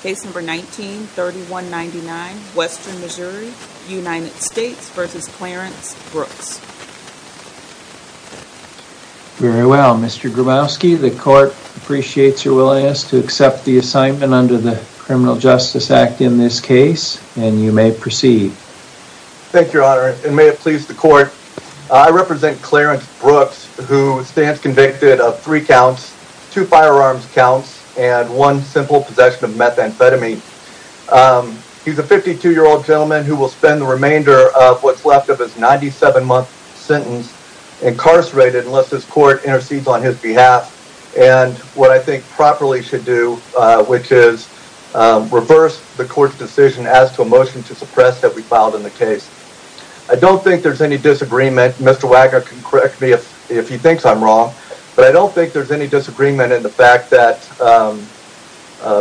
case number 19 3199 western Missouri United States versus Clarence Brooks very well Mr. Grubowski the court appreciates your willingness to accept the assignment under the criminal justice act in this case and you may proceed thank your honor and may it please the court i represent Clarence Brooks who stands convicted of three counts two firearms counts and one simple possession of methamphetamine he's a 52 year old gentleman who will spend the remainder of what's left of his 97 month sentence incarcerated unless this court intercedes on his behalf and what i think properly should do which is reverse the court's decision as to a motion to suppress that we filed in the case i don't think there's any disagreement Mr. Wagner can correct me if he thinks i'm wrong but i don't think there's any disagreement in the fact that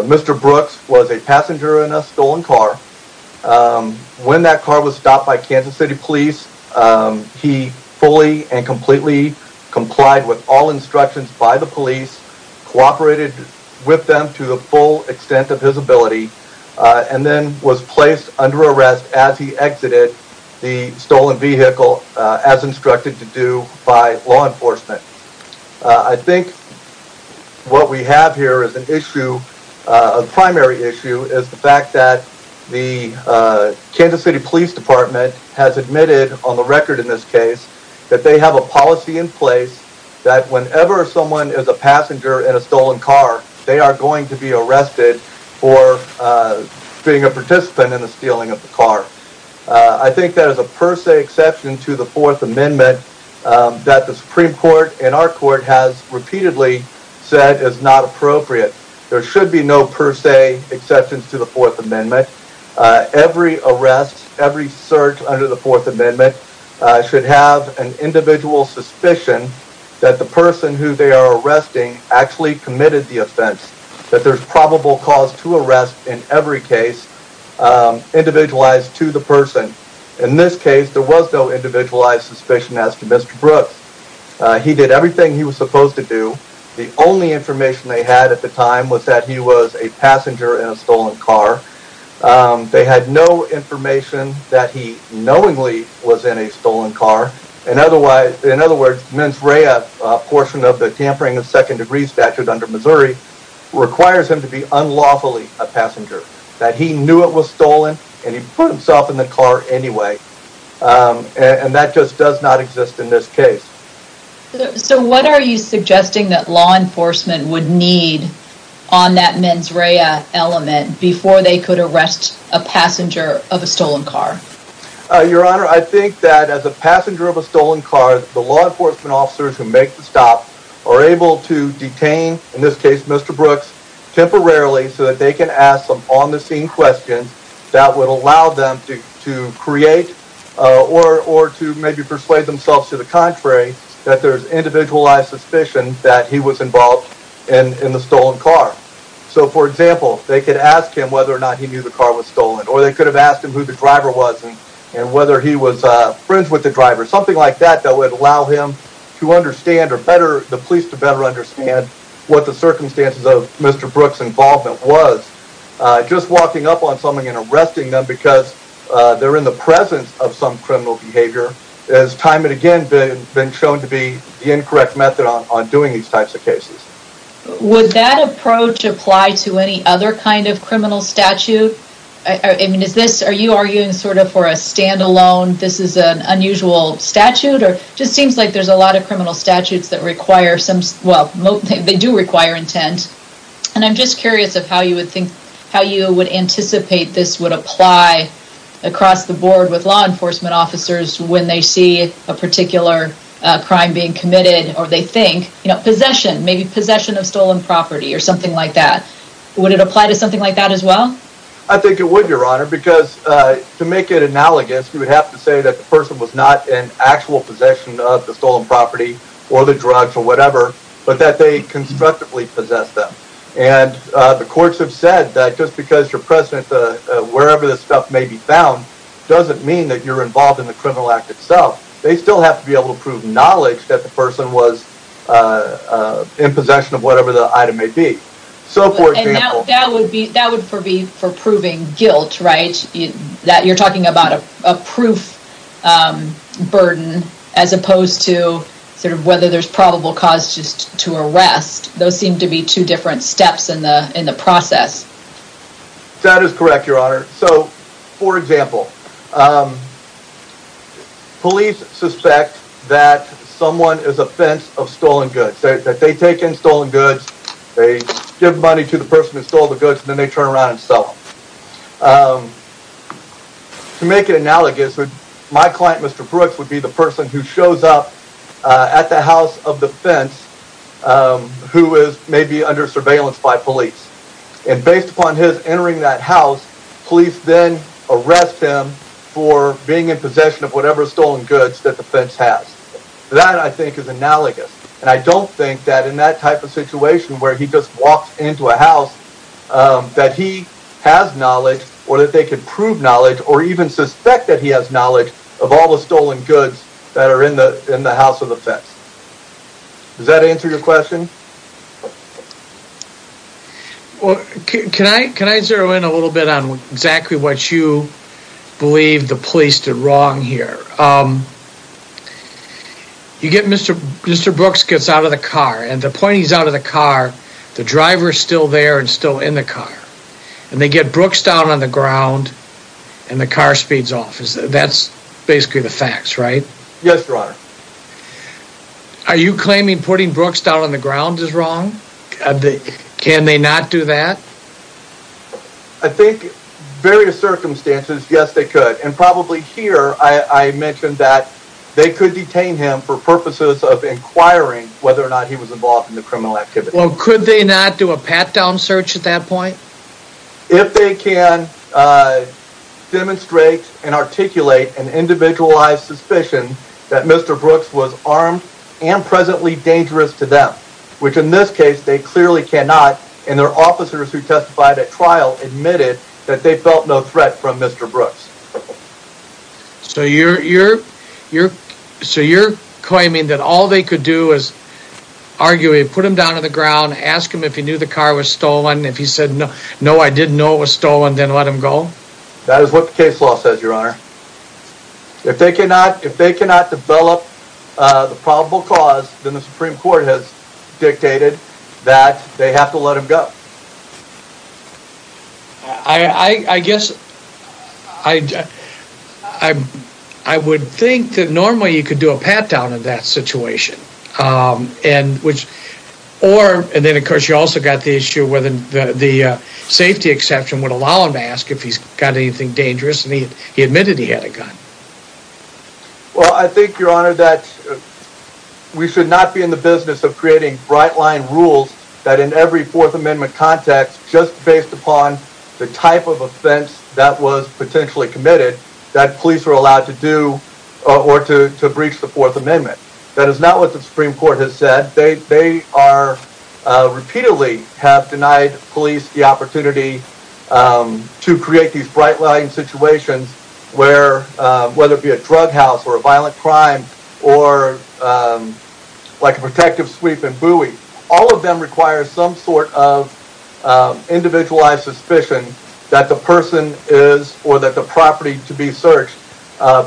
Mr. Brooks was a passenger in a stolen car when that car was stopped by Kansas City Police he fully and completely complied with all instructions by the police cooperated with them to the full extent of his ability and then was placed under arrest as he exited the stolen vehicle as instructed to do by law enforcement i think what we have here is an issue a primary issue is the fact that the Kansas City Police Department has admitted on the record in this case that they have a policy in place that whenever someone is a passenger in a stolen car they are going to be arrested for being a participant in the stealing of the car i think that is a per se exception to the fourth amendment that the supreme court and our court has repeatedly said is not appropriate there should be no per se exceptions to the fourth amendment every arrest every search under the fourth amendment should have an individual suspicion that the person who they are arresting actually committed the offense that there's probable cause to arrest in every case individualized to the person in this case there was no individualized suspicion as to Mr. Brooks he did everything he was supposed to do the only information they had at the time was that he was a passenger in a stolen car they had no information that he knowingly was in a stolen car in other words mens rea portion of the tampering of second degree statute under Missouri requires him to be unlawfully a passenger that he knew it was stolen and he put himself in the car anyway and that just does not exist in this case so what are you suggesting that law enforcement would need on that mens rea element before they could arrest a passenger of a stolen car your honor I think that as a passenger of a stolen car the law enforcement officers who make the stop are able to detain in this case Mr. Brooks temporarily so that they can ask some on the scene questions that would allow them to to create or or to maybe persuade themselves to the contrary that there's individualized suspicion that he was involved in in the stolen car so for example they could ask him whether or not he knew the car was stolen or they could have asked him who the driver was and whether he was friends with the driver something like that that would allow him to understand or better the police to better understand what the circumstances of Mr. Brooks involvement was just walking up on someone and arresting them because they're in the presence of some criminal behavior as time and again been shown to be the incorrect method on doing these types of cases would that approach apply to any other kind of criminal statute I mean is this are you arguing sort of for a standalone this is an unusual statute or just seems like there's a lot of criminal statutes that require some well they do require intent and I'm just curious of how you would think how you would anticipate this would apply across the board with law enforcement officers when they see a particular crime being committed or they think you know possession maybe possession of stolen property or something like that would it apply to something like that as I think it would your honor because to make it analogous you would have to say that the person was not in actual possession of the stolen property or the drugs or whatever but that they constructively possess them and the courts have said that just because your president wherever this stuff may be found doesn't mean that you're involved in the criminal act itself they still have to be able to prove knowledge that the person was in possession of whatever the item may be so for example that would be that would be for proving guilt right that you're talking about a proof burden as opposed to sort of whether there's probable cause just to arrest those seem to be two different steps in the in the process that is correct your honor so for example police suspect that someone is offense of stolen goods that they take in stolen goods they give money to the person who stole the goods and then they turn around and sell them to make it analogous would my client mr brooks would be the person who shows up at the house of defense who is maybe under surveillance by police and based upon his entering that house police then arrest him for being in possession of whatever stolen goods that defense has that i think is analogous and i don't think that in that type of situation where he just walked into a house that he has knowledge or that they could prove knowledge or even suspect that he has knowledge of all the stolen goods that are in the in the house of defense does that answer your question well can i can i zero in a little bit on exactly what you believe the police did here um you get mr mr brooks gets out of the car and the point he's out of the car the driver is still there and still in the car and they get brooks down on the ground and the car speeds off is that's basically the facts right yes your honor are you claiming putting brooks down on the ground is wrong i think can they not do that i think various circumstances yes they could and probably here i i mentioned that they could detain him for purposes of inquiring whether or not he was involved in the criminal activity well could they not do a pat-down search at that point if they can uh demonstrate and articulate an individualized suspicion that mr brooks was armed and presently dangerous to them which in this case they clearly cannot and their officers who testified at trial admitted that they felt no threat from mr brooks so you're you're you're so you're claiming that all they could do is argue put him down on the ground ask him if he knew the car was stolen if he said no no i didn't know it was stolen then let him go that is what the case law says your honor if they cannot if they cannot develop uh the probable cause then the supreme court has dictated that they have to let him go i i i guess i i i would think that normally you could do a pat-down in that situation um and which or and then of course you also got the issue whether the safety exception would allow him to ask if he's got anything dangerous and he admitted he had a gun well i think your honor that we should not be in the business of creating bright line rules that in every fourth amendment context just based upon the type of offense that was potentially committed that police are allowed to do or to to breach the fourth amendment that is are repeatedly have denied police the opportunity to create these bright line situations where whether it be a drug house or a violent crime or like a protective sweep and buoy all of them require some sort of individualized suspicion that the person is or that the property to be searched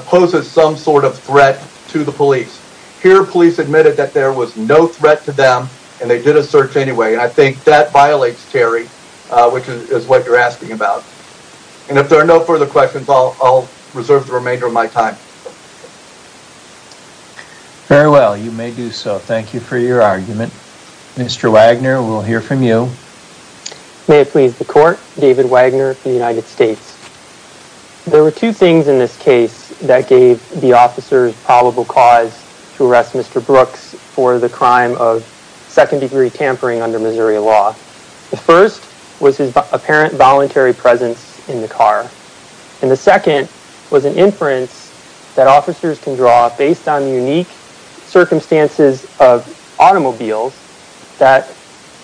poses some sort of threat to the police here police admitted that there was no threat to them and they did a search anyway and i think that violates terry uh which is what you're asking about and if there are no further questions i'll i'll reserve the remainder of my time very well you may do so thank you for your argument mr wagner we'll hear from you may two things in this case that gave the officers probable cause to arrest mr brooks for the crime of second degree tampering under missouri law the first was his apparent voluntary presence in the car and the second was an inference that officers can draw based on unique circumstances of automobiles that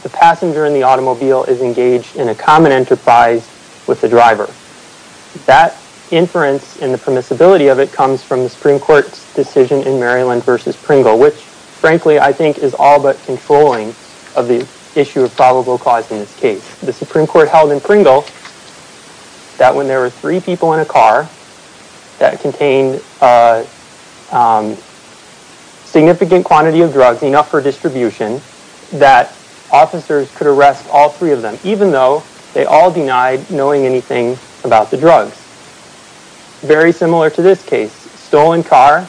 the passenger in the automobile is engaged in a common enterprise with the driver that inference and the permissibility of it comes from the supreme court's decision in maryland versus pringle which frankly i think is all but controlling of the issue of probable cause in this case the supreme court held in pringle that when there were three people in a car that contained a significant quantity of drugs enough for distribution that officers could arrest all three of them even though they all denied knowing anything about the drugs very similar to this case stolen car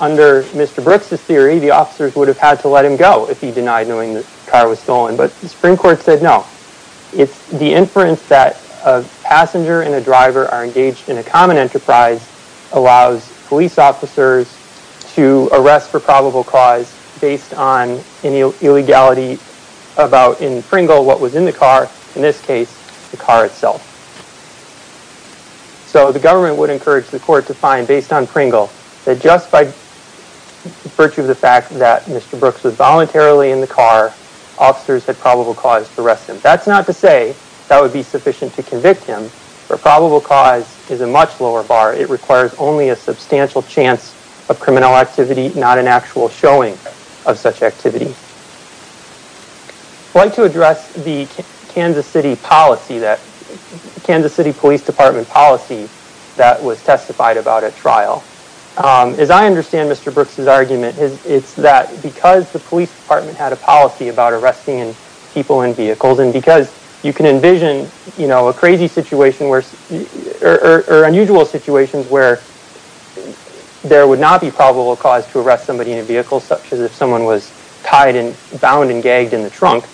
under mr brooks's theory the officers would have had to let him go if he denied knowing the car was stolen but the supreme court said no it's the inference that a passenger and a driver are engaged in a common enterprise allows police officers to arrest for probable cause based on any illegality about in pringle what was in the car in this case the car itself so the government would encourage the court to find based on pringle that just by virtue of the fact that mr brooks was voluntarily in the car officers had probable cause to arrest him that's not to say that would much lower bar it requires only a substantial chance of criminal activity not an actual showing of such activity i'd like to address the kansas city policy that kansas city police department policy that was testified about at trial um as i understand mr brooks's argument is it's that because the police department had a policy about arresting people in vehicles and because you can envision you know a crazy situation where or unusual situations where there would not be probable cause to arrest somebody in a vehicle such as if someone was tied and bound and gagged in the trunk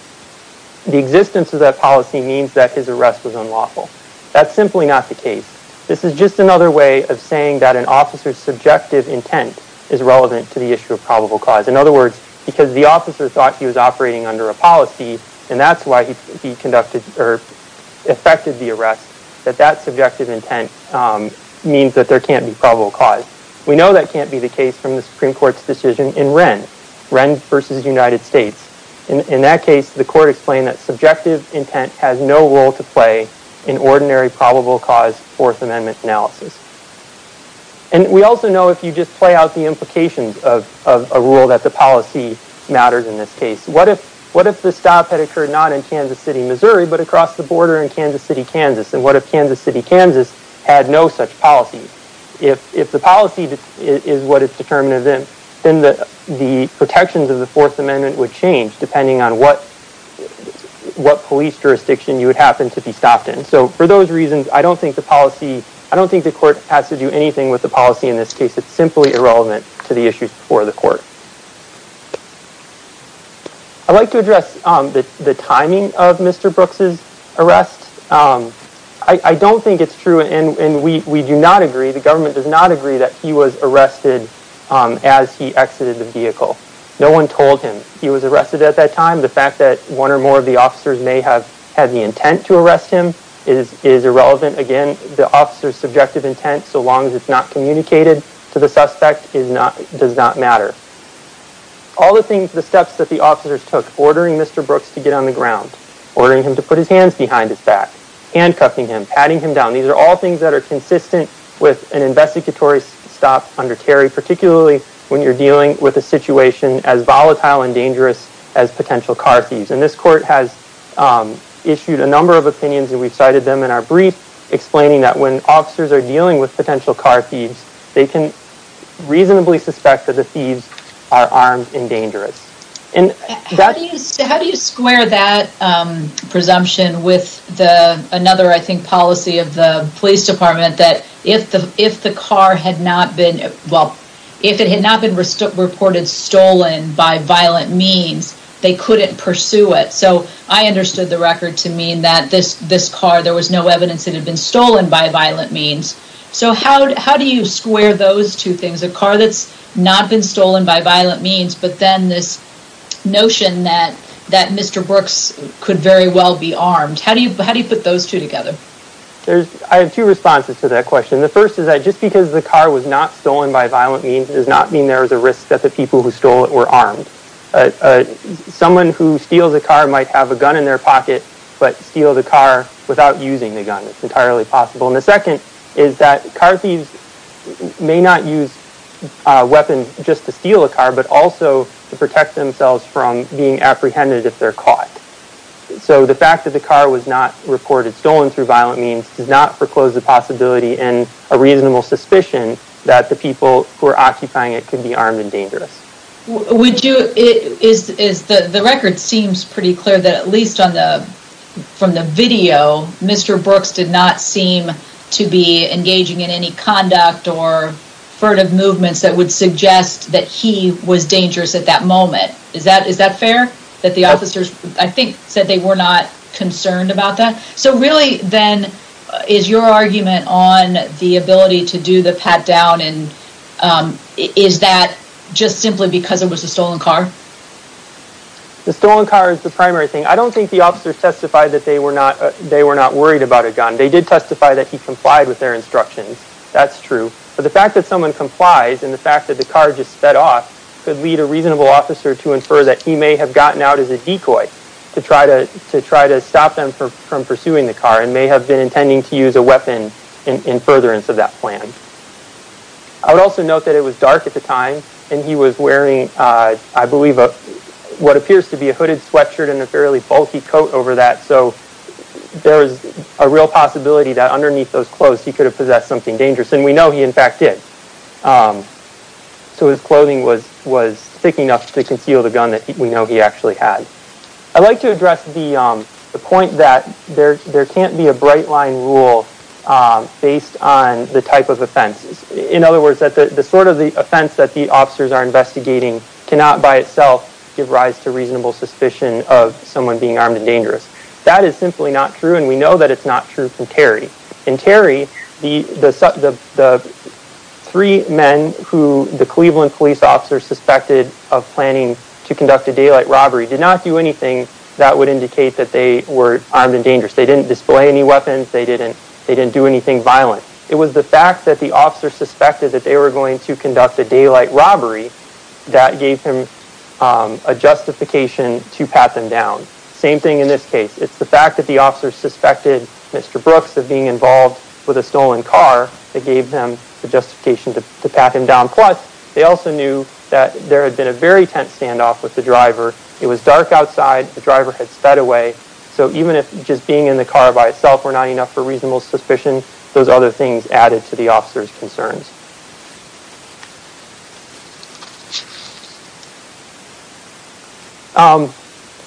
the existence of that policy means that his arrest was unlawful that's simply not the case this is just another way of saying that an officer's subjective intent is relevant to the issue of probable cause in other words because the officer thought he was operating under a policy and that's why he conducted or affected the arrest that that subjective intent um means that there can't be probable cause we know that can't be the case from the supreme court's decision in ren ren versus united states in that case the court explained that subjective intent has no role to play in ordinary probable cause fourth amendment analysis and we also know if you just play out the implications of of a rule that the what if what if the stop had occurred not in kansas city missouri but across the border in kansas city kansas and what if kansas city kansas had no such policy if if the policy is what is determinative then the the protections of the fourth amendment would change depending on what what police jurisdiction you would happen to be stopped in so for those reasons i don't think the policy i don't think the court has to do anything with the policy in this case it's simply irrelevant to the issues before the court i'd like to address um the the timing of mr brooks's arrest um i i don't think it's true and and we we do not agree the government does not agree that he was arrested um as he exited the vehicle no one told him he was arrested at that time the fact that one or more of the officers may have had the intent to arrest him is is irrelevant again the officer's subjective intent so long as it's not communicated to the suspect is not does not matter all the things the steps that the officers took ordering mr brooks to get on the ground ordering him to put his hands behind his back handcuffing him patting him down these are all things that are consistent with an investigatory stop under terry particularly when you're dealing with a situation as volatile and dangerous as potential car thieves and this court has um issued a number of opinions and we've cited them in our brief explaining that when officers are dealing with potential car thieves they can reasonably suspect that the thieves are armed and dangerous and that how do you square that um presumption with the another i think policy of the police department that if the if the car had not been well if it had not been reported stolen by violent means they couldn't pursue it so i no evidence it had been stolen by violent means so how do you square those two things a car that's not been stolen by violent means but then this notion that that mr brooks could very well be armed how do you how do you put those two together there's i have two responses to that question the first is that just because the car was not stolen by violent means does not mean there is a risk that the people who stole it were armed uh someone who steals a car might have a gun in their pocket but steal the car without using the gun it's entirely possible and the second is that car thieves may not use a weapon just to steal a car but also to protect themselves from being apprehended if they're caught so the fact that the car was not reported stolen through violent means does not foreclose the possibility and a reasonable suspicion that the people who are occupying it can be armed and dangerous would you is is the the record seems pretty clear that at least on the from the video mr brooks did not seem to be engaging in any conduct or furtive movements that would suggest that he was dangerous at that moment is that is that fair that the officers i think said they were not concerned about that so really then is your argument on the ability to do the pat down and um is that just simply because it was a stolen car the stolen car is the primary thing i don't think the officers testified that they were not they were not worried about a gun they did testify that he complied with their instructions that's true but the fact that someone complies and the fact that the car just sped off could lead a reasonable officer to infer that he may have gotten out as a decoy to try to to try to stop them from pursuing the car and may have been intending to use a weapon in furtherance of that plan i would also note that it was dark at the time and he was wearing uh i believe uh what appears to be a hooded sweatshirt and a fairly bulky coat over that so there's a real possibility that underneath those clothes he could have possessed something dangerous and we know he in fact did um so his clothing was was thick enough to conceal the gun that we know he actually had i'd like to address the um the point that there there can't be a bright line rule um based on the type of offense in other words that the sort of the offense that the officers are investigating cannot by itself give rise to reasonable suspicion of someone being armed and dangerous that is simply not true and we know that it's not true from terry and terry the the the three men who the cleveland police officer suspected of planning to conduct a daylight robbery did not do anything that would indicate that they were armed and they didn't display any weapons they didn't they didn't do anything violent it was the fact that the officer suspected that they were going to conduct a daylight robbery that gave him um a justification to pat them down same thing in this case it's the fact that the officer suspected mr brooks of being involved with a stolen car that gave them the justification to pat him down plus they also knew that there had been a very tense standoff with the driver it was dark outside the driver had sped away so even if just being in the car by itself were not enough for reasonable suspicion those other things added to the officer's concerns um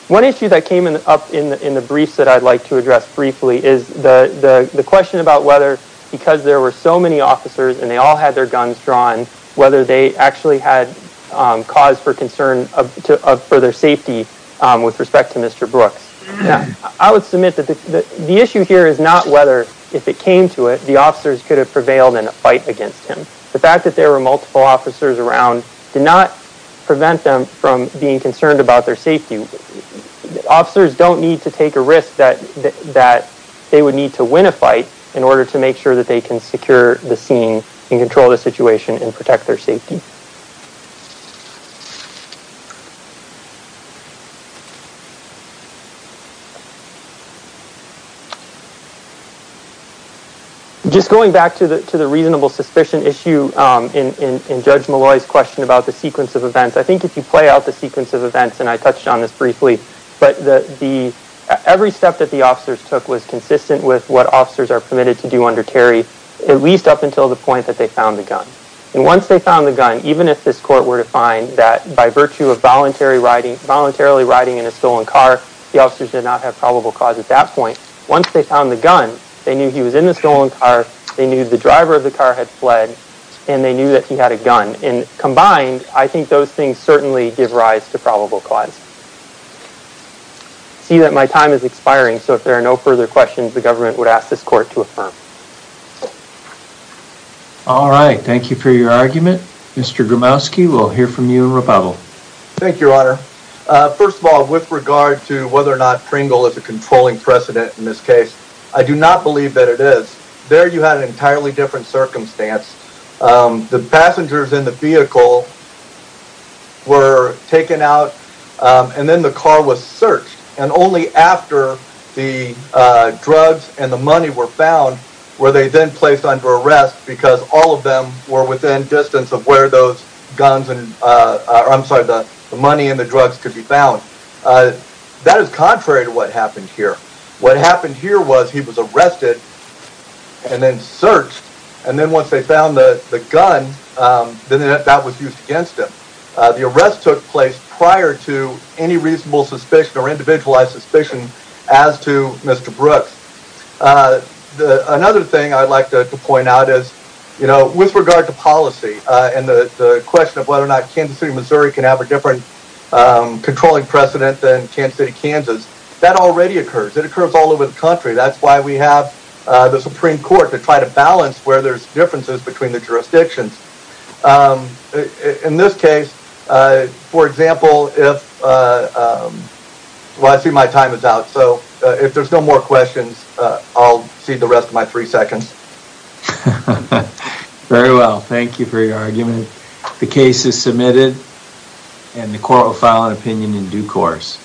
one issue that came in up in the in the briefs that i'd like to address briefly is the the the question about whether because there were so many officers and they all had their guns drawn whether they actually had um cause for concern of to of their safety um with respect to mr brooks i would submit that the the issue here is not whether if it came to it the officers could have prevailed in a fight against him the fact that there were multiple officers around did not prevent them from being concerned about their safety officers don't need to take a risk that that they would need to win a fight in order to make sure that they can secure the scene and control the situation and protect their safety just going back to the to the reasonable suspicion issue um in in judge malloy's question about the sequence of events i think if you play out the sequence of events and i touched on this briefly but the the every step that the officers took was consistent with what officers are permitted to do under terry at least up until the point that they found the gun and once they found the gun even if this court were to find that by virtue of voluntary riding voluntarily riding in a stolen car the officers did not have probable cause at that point once they found the gun they knew he was in the stolen car they knew the driver of the car had fled and they knew that he had a gun and combined i think those things certainly give rise to probable cause see that my time is expiring so there are no further questions the government would ask this court to affirm all right thank you for your argument mr gromowski we'll hear from you in rebuttal thank you your honor uh first of all with regard to whether or not pringle is a controlling precedent in this case i do not believe that it is there you had an entirely different circumstance the passengers in the vehicle were taken out and then the car was searched and only after the uh drugs and the money were found were they then placed under arrest because all of them were within distance of where those guns and uh i'm sorry the money and the drugs could be found that is contrary to what happened here what happened here was he was arrested and then searched and then once they found the the gun um then that was used against him the arrest took place prior to any reasonable suspicion or individualized suspicion as to mr brooks uh the another thing i'd like to point out is you know with regard to policy uh and the the question of whether or not kansas city missouri can have a different controlling precedent than kansas city kansas that already occurs it occurs all over the country that's why we have uh the supreme court to try to balance where there's differences between the uh for example if uh um well i see my time is out so if there's no more questions uh i'll cede the rest of my three seconds very well thank you for your argument the case is submitted and the court will file an opinion in due course